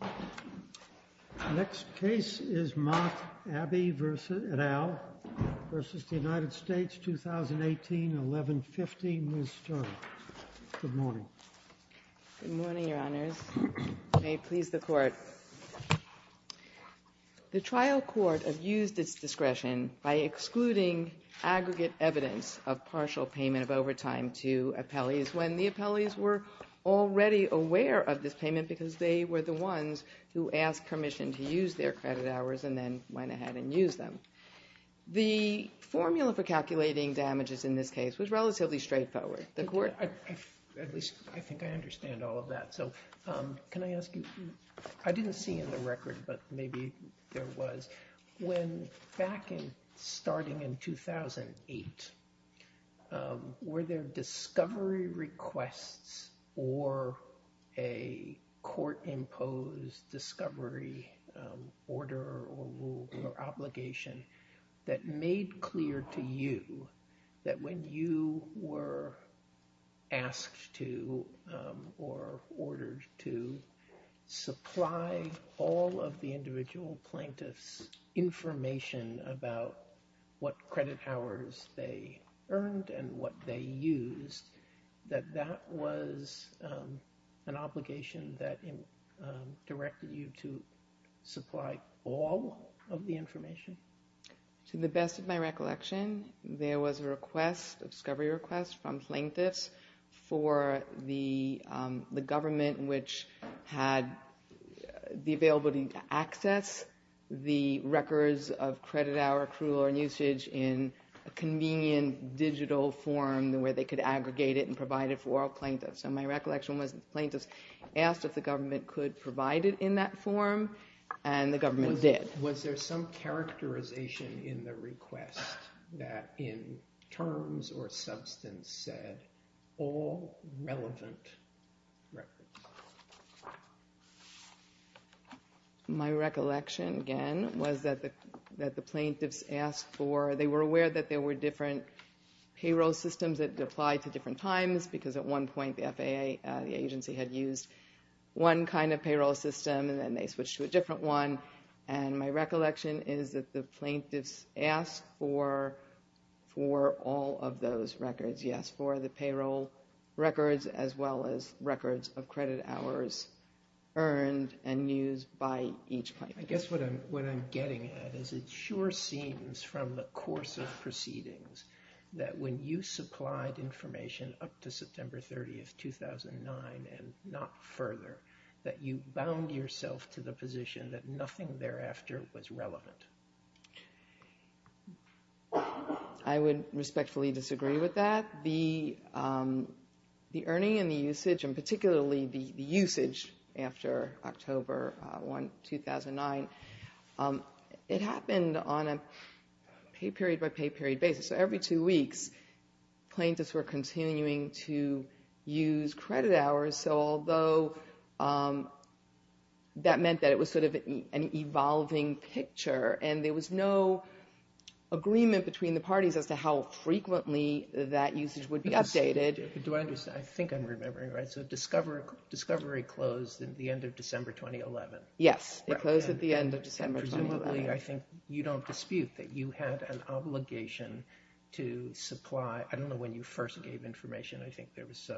2018-11-15. Ms. Sterling. Good morning. Good morning, Your Honors. May it please the Court. The trial court abused its discretion by excluding aggregate evidence of partial payment of overtime to appellees when the appellees were already aware of this payment because they were the ones who asked permission to use their credit hours and then went ahead and used them. The formula for calculating damages in this case was relatively straightforward. The Court... At least I think I understand all of that. So can I ask you, I didn't see in the record but maybe there was, when back in starting in 2008 were there discovery requests or a court-imposed discovery order or rule or obligation that made clear to you that when you were asked to or ordered to supply all of the individual plaintiff's information about what credit hours they earned and what they used that that was an obligation that directed you to supply all of the information? To the best of my recollection there was a request, a discovery request, from plaintiffs for the government which had the availability to access the records of credit hour accrual and usage in a convenient digital form where they could aggregate it and provide it for all plaintiffs. So my recollection was plaintiffs asked if the government could provide it in that form and the government did. Was there some characterization in the request that in terms or substance said all relevant records? My recollection again was that the plaintiffs asked for, they were aware that there were different payroll systems that applied to different times because at one point the FAA, the agency had used one kind of payroll system and then they switched to a different one and my recollection is that the plaintiffs asked for all of those records. Yes, for the payroll records as well as records of credit hours earned and used by each plaintiff. I guess what I'm what I'm getting at is it sure seems from the course of proceedings that when you supplied information up to September 30th 2009 and not further that you bound yourself to the position that nothing thereafter was relevant. I would respectfully disagree with that. The earning and the usage and particularly the usage after October 2009, it happened on a pay period by pay period basis. So every two weeks plaintiffs were continuing to use credit hours. So although that meant that it was sort of an evolving picture and there was no agreement between the parties as to how frequently that usage would be updated. Do I understand? I think I'm remembering right. So discovery closed at the end of December 2011. Yes, it closed at the end of December 2011. Presumably I think you don't dispute that you had an obligation to supply, I don't know when you first gave information, I think there was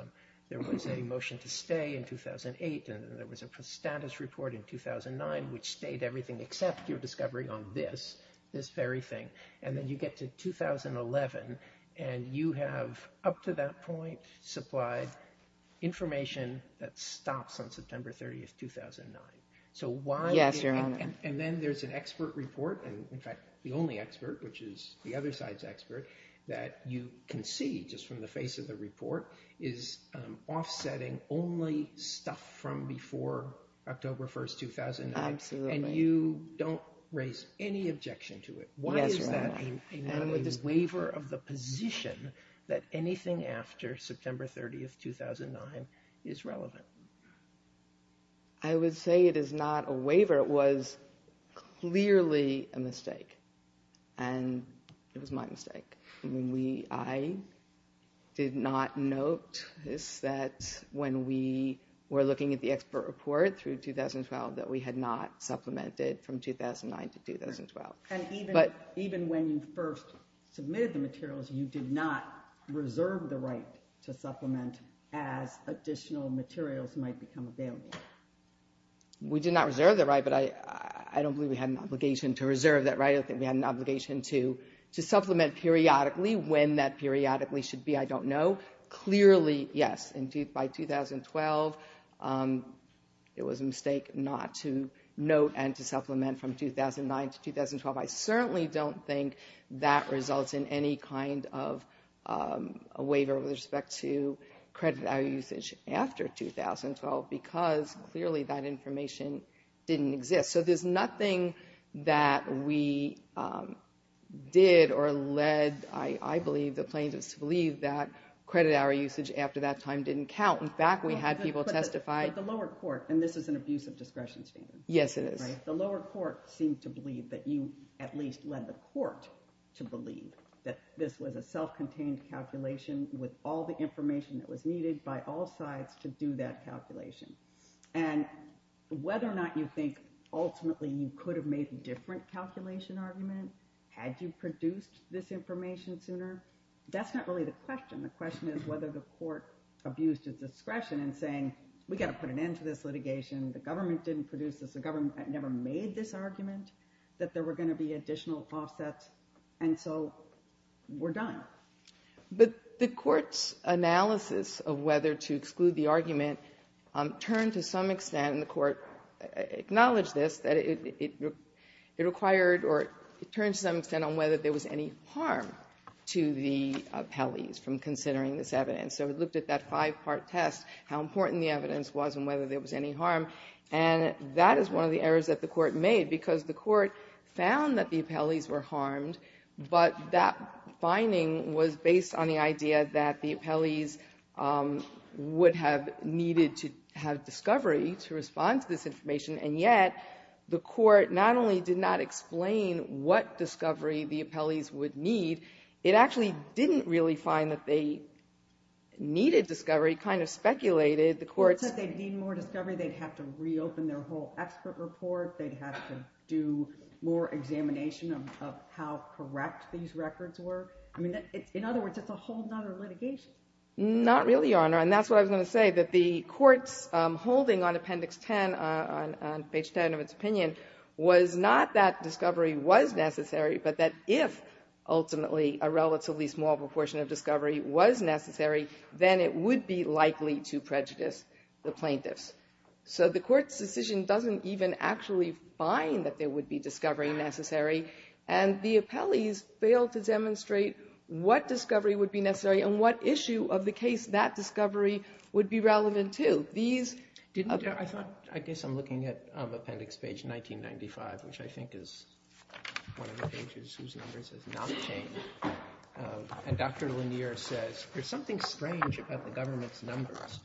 there was a motion to stay in 2008 and there was a status report in 2009 which stayed everything except your discovery on this, this very thing. And then you get to 2011 and you have up to that point supplied information that stops on September 30th 2009. So why? Yes, Your Honor. And then there's an expert report and in fact the only expert which is the other side's expert that you can see just from the face of the report is offsetting only stuff from before October 1st 2009. Absolutely. And you don't raise any objection to it. Why is that a waiver of the position that anything after September 30th 2009 is relevant? I would say it is not a waiver. It was clearly a mistake and it was my mistake. I did not note that when we were looking at the expert report through 2012 that we had not supplemented from 2009 to 2012. And even when you first submitted the materials you did not reserve the right to when the materials might become available. We did not reserve the right, but I don't believe we had an obligation to reserve that right. I don't think we had an obligation to supplement periodically. When that periodically should be, I don't know. Clearly, yes, by 2012 it was a mistake not to note and to supplement from 2009 to 2012. I certainly don't think that results in any kind of a waiver with respect to credit hour usage after 2012 because clearly that information didn't exist. So there's nothing that we did or led, I believe, the plaintiffs to believe that credit hour usage after that time didn't count. In fact, we had people testify. But the lower court, and this is an abuse of discretion standard, the lower court seemed to believe that you at least led the court to believe that this was a self-contained calculation with all the information that was needed by all sides to do that calculation. And whether or not you think ultimately you could have made a different calculation argument had you produced this information sooner, that's not really the question. The question is whether the court abused its discretion in saying we've got to put an end to this litigation, the government didn't produce this, the government never made this argument that there were going to be additional offsets, and so we're done. But the court's analysis of whether to exclude the argument turned to some extent, and the court acknowledged this, that it required or turned to some extent on whether there was any harm to the appellees from considering this evidence. So it looked at that five-part test, how important the evidence was and whether there was any harm, and that is one of the errors that the court made, because the court found that the appellees were harmed, but that finding was based on the idea that the appellees would have needed to have discovery to respond to this information, and yet the court not only did not explain what discovery the appellees would need, it actually didn't really find that they needed discovery, kind of speculated, the court said they'd need more discovery, they'd have to reopen their whole expert report, they'd have to do more examination of how correct these records were. I mean, in other words, it's a whole nother litigation. Not really, Your Honor, and that's what I was going to say, that the court's holding on appendix 10, on page 10 of its opinion, was not that discovery was necessary, but that if, ultimately, a relatively small proportion of discovery was necessary, then it would be likely to prejudice the plaintiffs. So the court's decision doesn't even actually find that there would be discovery necessary, and the appellees failed to demonstrate what discovery would be necessary and what issue of the case that discovery would be relevant to. These didn't... I guess I'm looking at appendix page 1995, which I think is one of the pages whose numbers have not changed, and Dr. Lanier says, there's something strange about the government's numbers.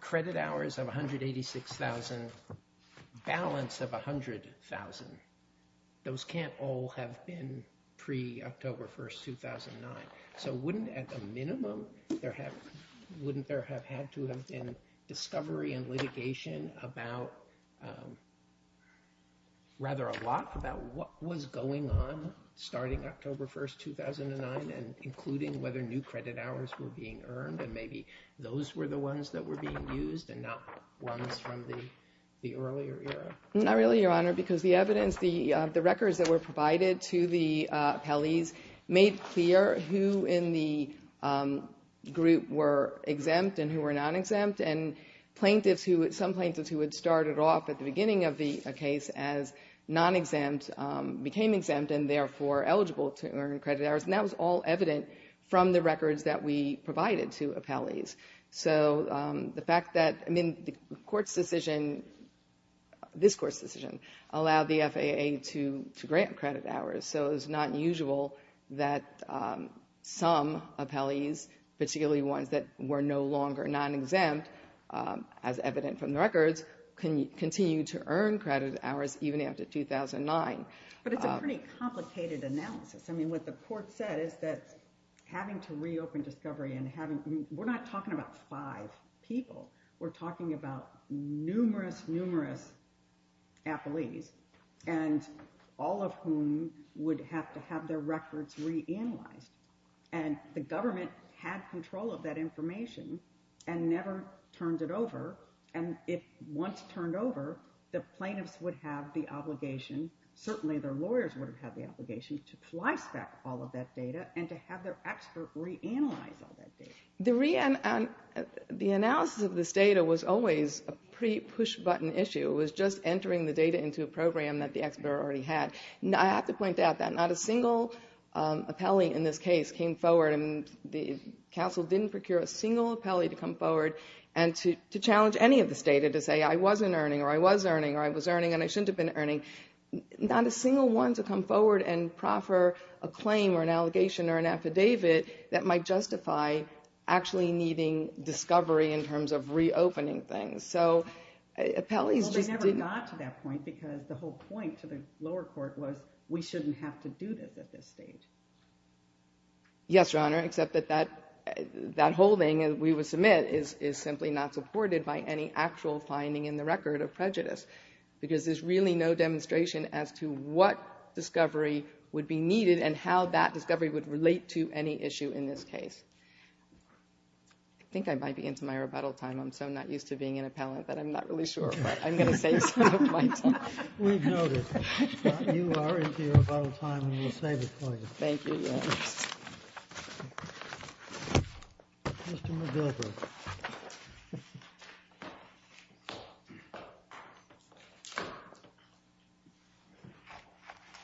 Credit hours of 186,000, balance of 100,000, those can't all have been pre-October 1st, 2009. So wouldn't, at the minimum, there have... wouldn't there have had to have been discovery and litigation about, rather, a lot about what was going on starting October 1st, 2009, and including whether new credit hours were being earned? And maybe those were the ones that were being used and not ones from the earlier era? Not really, Your Honor, because the evidence, the records that were provided to the appellees made clear who in the group were exempt and who were non-exempt, and plaintiffs who... some plaintiffs who had started off at the beginning of the case as non-exempt became exempt and, therefore, eligible to earn credit hours, and that was all evident from the records that we provided to appellees. So the fact that... I mean, the Court's decision, this Court's decision, allowed the FAA to grant credit hours, so it's not usual that some appellees, particularly ones that were no longer non-exempt, as evident from the records, can continue to earn credit hours even after 2009. But it's a pretty complicated analysis. I mean, what the Court said is that having to reopen discovery and having... we're not talking about five people. We're talking about numerous, numerous appellees, and all of whom would have to have their records reanalyzed. And the government had control of that information and never turned it over, and it once turned over, the plaintiffs would have the obligation, certainly their lawyers would have had the obligation, to flice back all of that data and to have their expert reanalyze all that data. The analysis of this data was always a pretty push-button issue. It was just entering the data into a program that the expert already had. I have to point out that not a single appellee in this case came forward, and the Council didn't procure a single appellee to come forward and to challenge any of this data to say, I wasn't earning, or I was earning, or I was earning, and I shouldn't have been earning. Not a single one to come forward and proffer a claim or an allegation or an affidavit that might justify actually needing discovery in terms of reopening things. So, appellees just didn't... Well, they never got to that point because the whole point to the lower court was, we shouldn't have to do this at this stage. Yes, Your Honor, except that that holding, we would submit, is simply not supported by any actual finding in the record of prejudice, because there's really no demonstration as to what discovery would be needed and how that discovery would relate to any issue in this case. I think I might be into my rebuttal time. I'm so not used to being an appellant that I'm not really sure, but I'm going to save some of my time. We've noted. You are into your rebuttal time, and we'll save it for you. Thank you, Your Honor. Mr. Medeiros.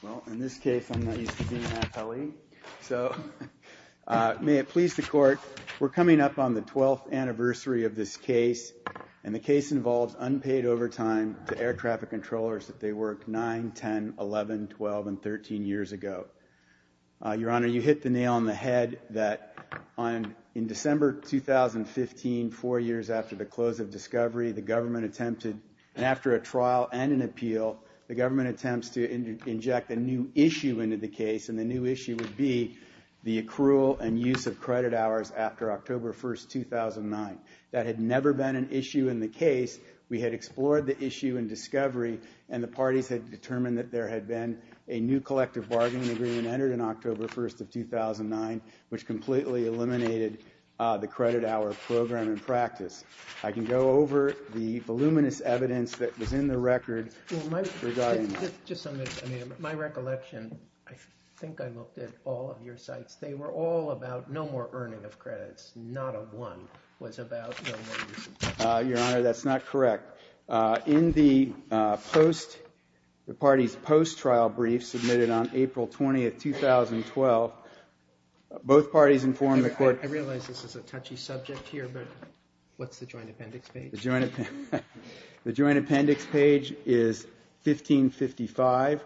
Well, in this case, I'm not used to being an appellee, so may it please the court, we're coming up on the 12th anniversary of this case, and the case involves unpaid overtime to air traffic controllers that they worked 9, 10, 11, 12, and 13 years ago. Your Honor, you hit the nail on the head that in December 2015, four years after the close of discovery, the government attempted, and after a trial and an appeal, the government attempts to inject a new issue into the case, and the new issue would be the accrual and use of credit hours after October 1, 2009. That had never been an issue in the case. We had explored the issue in discovery, and the parties had determined that there had been a new collective bargaining agreement entered in October 1, 2009, which completely eliminated the credit hour program in practice. I can go over the voluminous evidence that was in the record regarding that. My recollection, I think I looked at all of your sites, they were all about no more earning of credits, not a one was about no more using credits. Your Honor, that's not correct. In the post, the parties' post-trial brief submitted on April 20, 2012, both parties informed the court. I realize this is a touchy subject here, but what's the joint appendix page? The joint appendix page is 1555,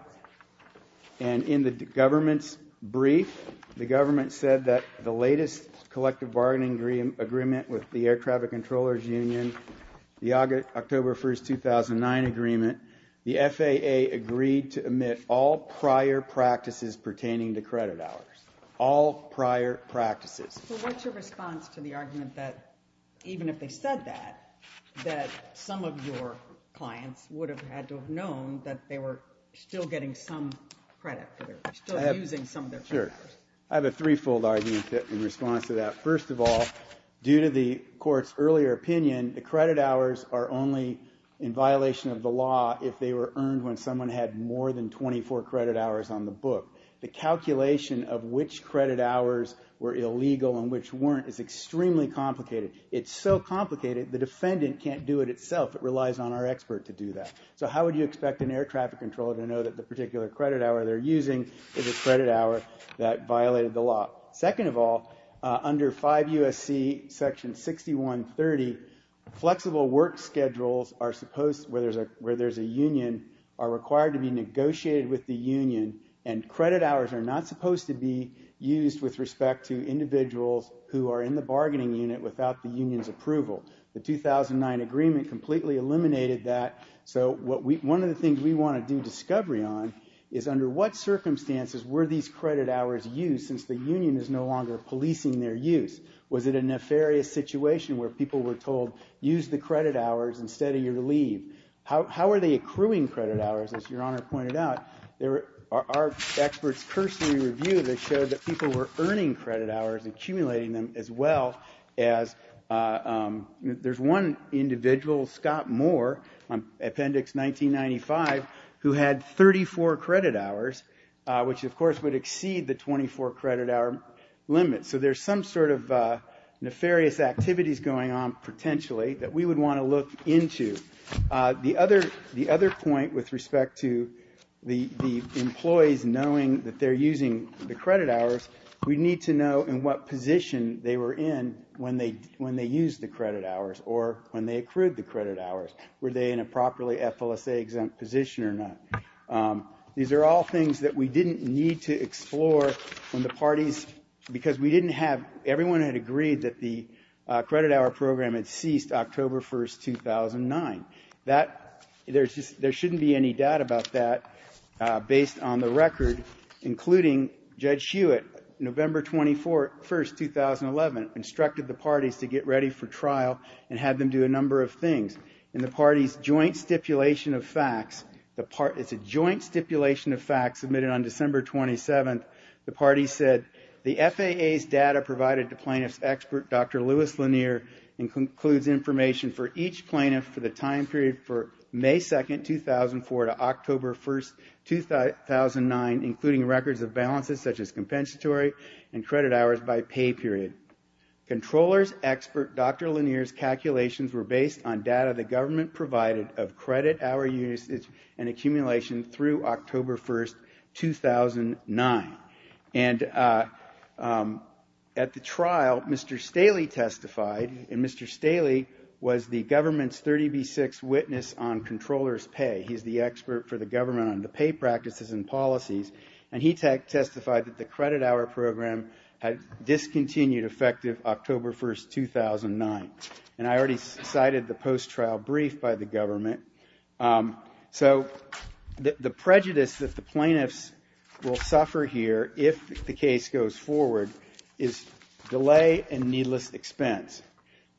and in the government's brief, the government said that the latest collective bargaining agreement with the Air Traffic Controllers Union, the October 1, 2009 agreement, the FAA agreed to omit all prior practices pertaining to credit hours. All prior practices. What's your response to the argument that even if they said that, that some of your clients would have had to have known that they were still getting some credit, still using some of their credit hours? Sure. I have a three-fold argument in response to that. First of all, due to the court's earlier opinion, the credit hours are only in violation of the law if they were earned when someone had more than 24 credit hours on the book. The calculation of which credit hours were illegal and which weren't is extremely complicated. It's so complicated, the defendant can't do it itself. It relies on our expert to do that. So how would you expect an air traffic controller to know that the particular credit hour they're using is a credit hour that violated the law? Second of all, under 5 U.S.C. section 6130, flexible work schedules are supposed, where there's a union, are required to be negotiated with the union. And credit hours are not supposed to be used with respect to individuals who are in the bargaining unit without the union's approval. The 2009 agreement completely eliminated that. So one of the things we want to do discovery on is under what circumstances were these credit hours used since the union is no longer policing their use? Was it a nefarious situation where people were told, use the credit hours instead of your leave? How are they accruing credit hours, as Your Honor pointed out? There are experts' cursory review that showed that people were earning credit hours, accumulating them, as well as there's one individual, Scott Moore, Appendix 1995, who had 34 credit hours, which of course would exceed the 24 credit hour limit. So there's some sort of nefarious activities going on, potentially, that we would want to look into. The other point with respect to the employees knowing that they're using the credit hours, we need to know in what position they were in when they used the credit hours or when they accrued the credit hours. Were they in a properly FLSA-exempt position or not? These are all things that we didn't need to explore when the parties, because we didn't have, everyone had agreed that the credit hour program had ceased October 1st, 2009. There shouldn't be any doubt about that, based on the record, including Judge Hewitt, November 21st, 2011, instructed the parties to get ready for trial and had them do a number of things. In the parties' joint stipulation of facts, it's a joint stipulation of facts submitted on December 27th, the parties said, the FAA's data provided to plaintiff's expert, Dr. Lewis Lanier, and concludes information for each plaintiff for the time period for May 2nd, 2004, to October 1st, 2009, including records of balances such as compensatory and credit hours by pay period. Controller's expert, Dr. Lanier's calculations were based on data the government provided of credit hour usage and accumulation through October 1st, 2009. And at the trial, Mr. Staley testified, and Mr. Staley was the government's 30B6 witness on controller's pay. He's the expert for the government on the pay practices and policies, and he testified that the credit hour program had discontinued effective October 1st, 2009. And I already cited the post-trial brief by the government. So the prejudice that the plaintiffs will suffer here, if the case goes forward, is delay and needless expense,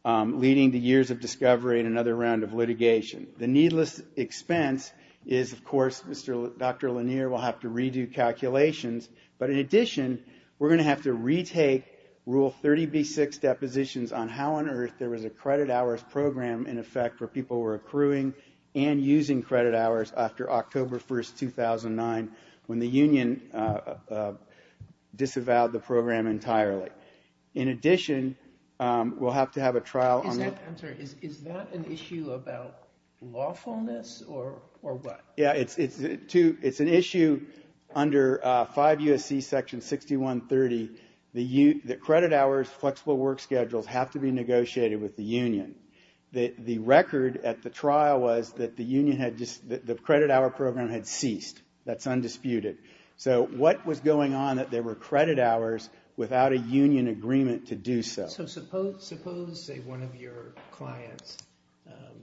leading to years of discovery and another round of litigation. The needless expense is, of course, Dr. Lanier will have to redo calculations, but in addition, we're going to have to retake Rule 30B6 depositions on how on earth there was a credit hours program, in effect, where people were accruing and using credit hours after October 1st, 2009, when the union disavowed the program entirely. In addition, we'll have to have a trial on that. I'm sorry, is that an issue about lawfulness or what? Yeah, it's an issue under 5 U.S.C. Section 6130, that credit hours, flexible work schedules, have to be negotiated with the union. The record at the trial was that the credit hour program had ceased. That's undisputed. So what was going on that there were credit hours without a union agreement to do so? So suppose, say, one of your clients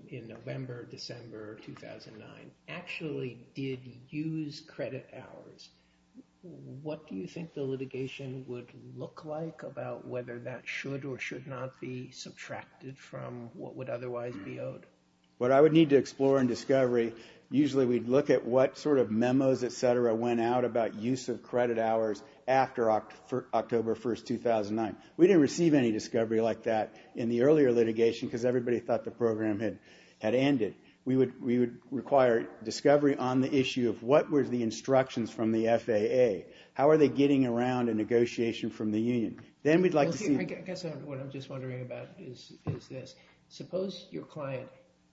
in November, December 2009, actually did use credit hours. What do you think the litigation would look like about whether that should or should not be subtracted from what would otherwise be owed? What I would need to explore in discovery, usually we'd look at what sort of memos, et cetera, went out about use of credit hours after October 1st, 2009. We didn't receive any discovery like that in the earlier litigation because everybody thought the program had ended. We would require discovery on the issue of what were the instructions from the FAA. How are they getting around a negotiation from the union? I guess what I'm just wondering about is this. Suppose your client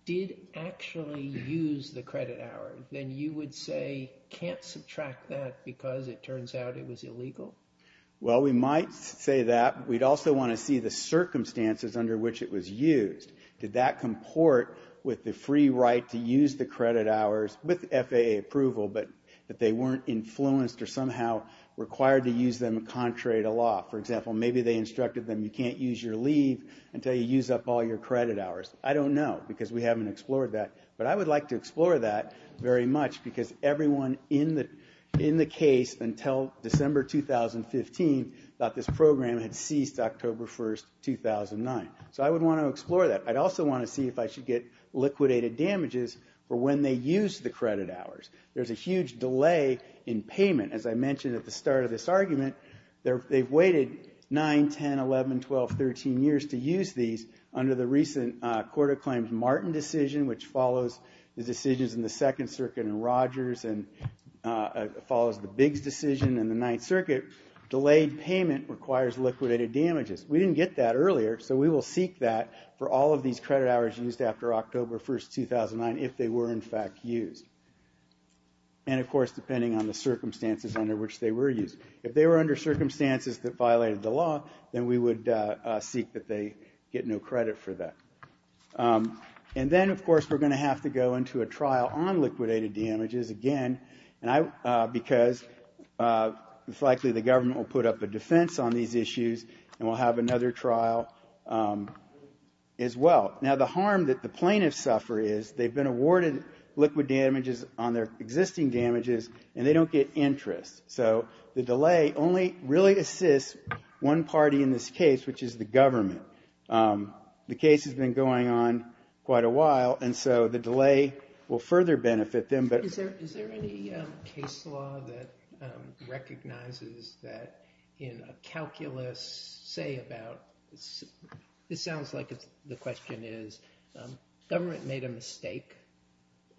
did actually use the credit hour, then you would say can't subtract that because it turns out it was illegal? Well, we might say that. We'd also want to see the circumstances under which it was used. Did that comport with the free right to use the credit hours with FAA approval but that they weren't influenced or somehow required to use them contrary to law? For example, maybe they instructed them you can't use your leave until you use up all your credit hours. I don't know because we haven't explored that. But I would like to explore that very much because everyone in the case until December 2015 thought this program had ceased October 1st, 2009. So I would want to explore that. I'd also want to see if I should get liquidated damages for when they used the credit hours. There's a huge delay in payment. As I mentioned at the start of this argument, they've waited 9, 10, 11, 12, 13 years to use these under the recent Court of Claims Martin decision which follows the decisions in the Second Circuit and Rogers and follows the Biggs decision in the Ninth Circuit. Delayed payment requires liquidated damages. We didn't get that earlier so we will seek that for all of these credit hours used after October 1st, 2009 if they were in fact used. And, of course, depending on the circumstances under which they were used. If they were under circumstances that violated the law, then we would seek that they get no credit for that. And then, of course, we're going to have to go into a trial on liquidated damages again because it's likely the government will put up a defense on these issues and we'll have another trial as well. Now, the harm that the plaintiffs suffer is they've been awarded liquid damages on their existing damages and they don't get interest. So the delay only really assists one party in this case, which is the government. The case has been going on quite a while and so the delay will further benefit them. Is there any case law that recognizes that in a calculus say about this sounds like the question is government made a mistake.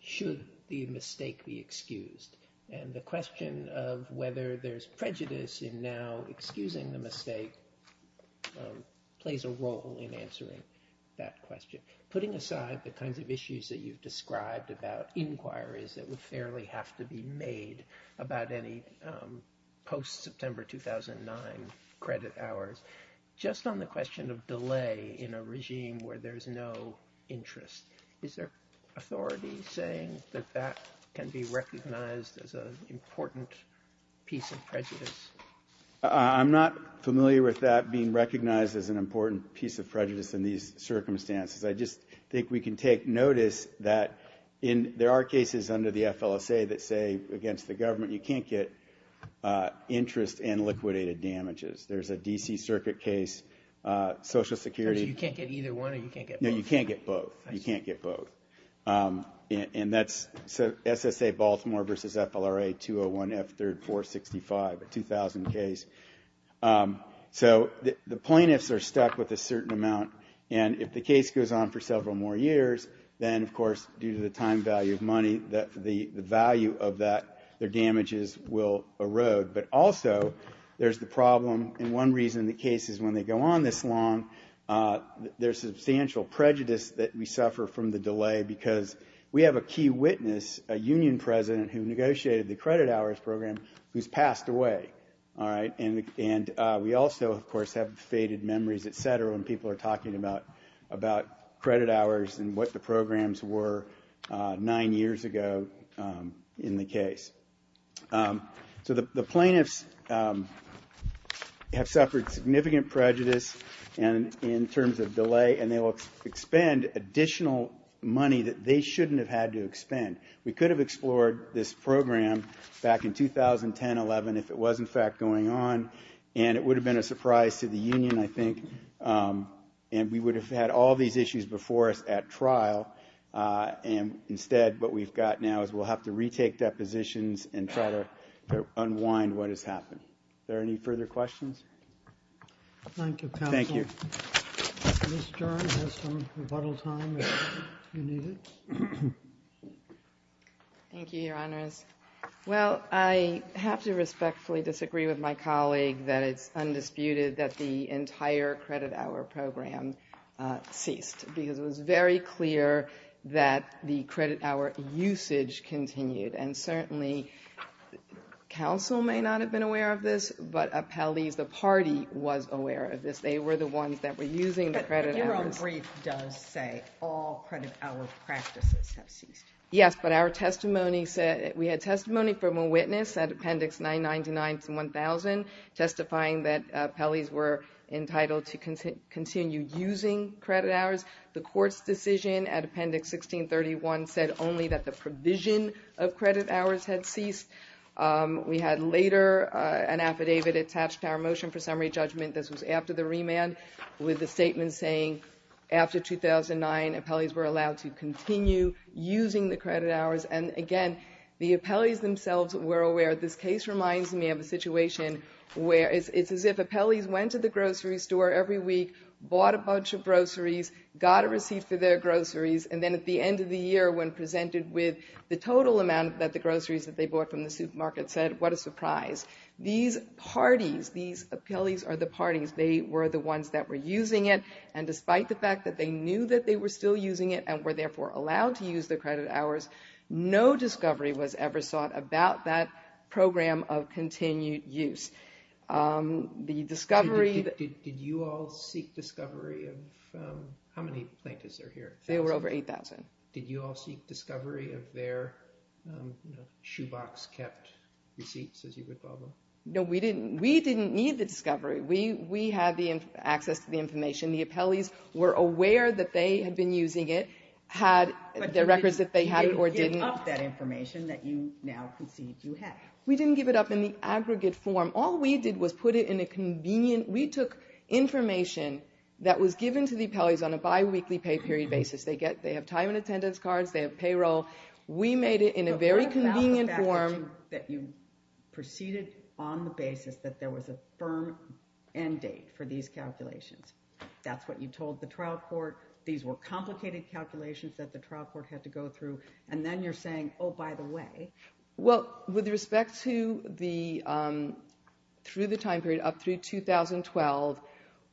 Should the mistake be excused? And the question of whether there's prejudice in now excusing the mistake plays a role in answering that question. Putting aside the kinds of issues that you've described about inquiries that would fairly have to be made about any post-September 2009 credit hours, just on the question of delay in a regime where there's no interest, is there authority saying that that can be recognized as an important piece of prejudice? I'm not familiar with that being recognized as an important piece of prejudice in these circumstances. I just think we can take notice that there are cases under the FLSA that say against the government you can't get interest in liquidated damages. There's a D.C. Circuit case, Social Security. You can't get either one or you can't get both? No, you can't get both. You can't get both. And that's SSA Baltimore versus FLRA 201F3465, a 2000 case. So the plaintiffs are stuck with a certain amount, and if the case goes on for several more years, then of course due to the time value of money, the value of that, their damages will erode. But also there's the problem, and one reason the case is when they go on this long, there's substantial prejudice that we suffer from the delay because we have a key witness, a union president who negotiated the credit hours program, who's passed away. And we also, of course, have faded memories, et cetera, when people are talking about credit hours and what the programs were nine years ago in the case. So the plaintiffs have suffered significant prejudice in terms of delay, and they will expend additional money that they shouldn't have had to expend. We could have explored this program back in 2010-11 if it was in fact going on, and it would have been a surprise to the union, I think, and we would have had all these issues before us at trial. And instead what we've got now is we'll have to retake depositions and try to unwind what has happened. Are there any further questions? Thank you, counsel. Thank you. Ms. Stern has some rebuttal time if you need it. Thank you, Your Honors. Well, I have to respectfully disagree with my colleague that it's undisputed that the entire credit hour program ceased because it was very clear that the credit hour usage continued. And certainly counsel may not have been aware of this, but appellees, the party, was aware of this. They were the ones that were using the credit hours. But your own brief does say all credit hour practices have ceased. Yes, but our testimony said we had testimony from a witness at Appendix 999-1000 testifying that appellees were entitled to continue using credit hours. The court's decision at Appendix 1631 said only that the provision of credit hours had ceased. We had later an affidavit attached to our motion for summary judgment. This was after the remand with the statement saying after 2009, appellees were allowed to continue using the credit hours. And, again, the appellees themselves were aware. This case reminds me of a situation where it's as if appellees went to the grocery store every week, bought a bunch of groceries, got a receipt for their groceries, and then at the end of the year when presented with the total amount that the groceries that they bought from the supermarket said, what a surprise. These parties, these appellees are the parties. They were the ones that were using it. And despite the fact that they knew that they were still using it and were, therefore, allowed to use the credit hours, no discovery was ever sought about that program of continued use. Did you all seek discovery of how many plaintiffs are here? They were over 8,000. Did you all seek discovery of their shoebox-kept receipts, as you would call them? No, we didn't. We didn't need the discovery. We had the access to the information. The appellees were aware that they had been using it, had the records that they had or didn't. But you didn't give up that information that you now concede you had. We didn't give it up in the aggregate form. All we did was put it in a convenient. We took information that was given to the appellees on a biweekly pay period basis. They have time and attendance cards. They have payroll. We made it in a very convenient form. But what about the fact that you proceeded on the basis that there was a firm end date for these calculations? That's what you told the trial court. These were complicated calculations that the trial court had to go through. And then you're saying, oh, by the way. Well, with respect to the time period up through 2012,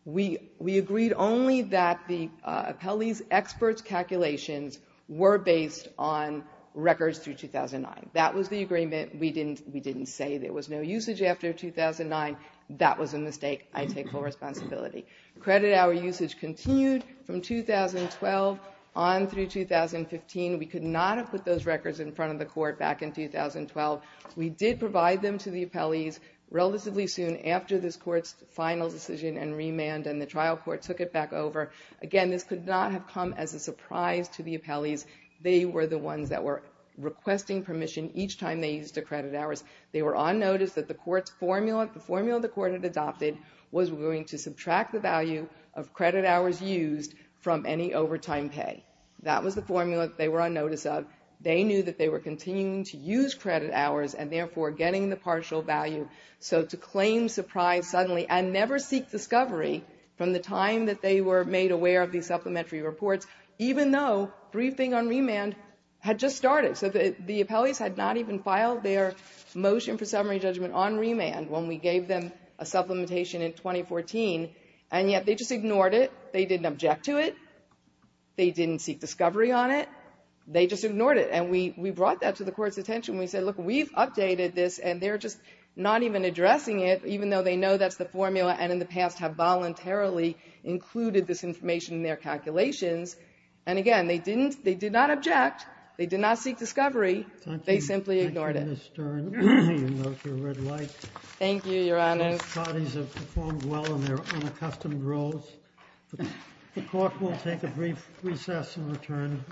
we agreed only that the appellees' experts' calculations were based on records through 2009. That was the agreement. We didn't say there was no usage after 2009. That was a mistake. I take full responsibility. Credit hour usage continued from 2012 on through 2015. We could not have put those records in front of the court back in 2012. We did provide them to the appellees relatively soon after this court's final decision and remand, and the trial court took it back over. Again, this could not have come as a surprise to the appellees. They were the ones that were requesting permission each time they used their credit hours. They were on notice that the court's formula, the formula the court had adopted, was going to subtract the value of credit hours used from any overtime pay. That was the formula that they were on notice of. They knew that they were continuing to use credit hours and, therefore, getting the partial value. So to claim surprise suddenly and never seek discovery from the time that they were made aware of these supplementary reports, even though briefing on remand had just started. So the appellees had not even filed their motion for summary judgment on remand when we gave them a supplementation in 2014, and yet they just ignored it. They didn't object to it. They didn't seek discovery on it. They just ignored it. And we brought that to the court's attention. We said, look, we've updated this, and they're just not even addressing it, even though they know that's the formula and in the past have voluntarily included this information in their calculations. And, again, they didn't – they did not object. They did not seek discovery. They simply ignored it. Thank you, Ms. Stern. You can go to your red light. Thank you, Your Honor. Both parties have performed well in their unaccustomed roles. The court will take a brief recess and return in a few moments.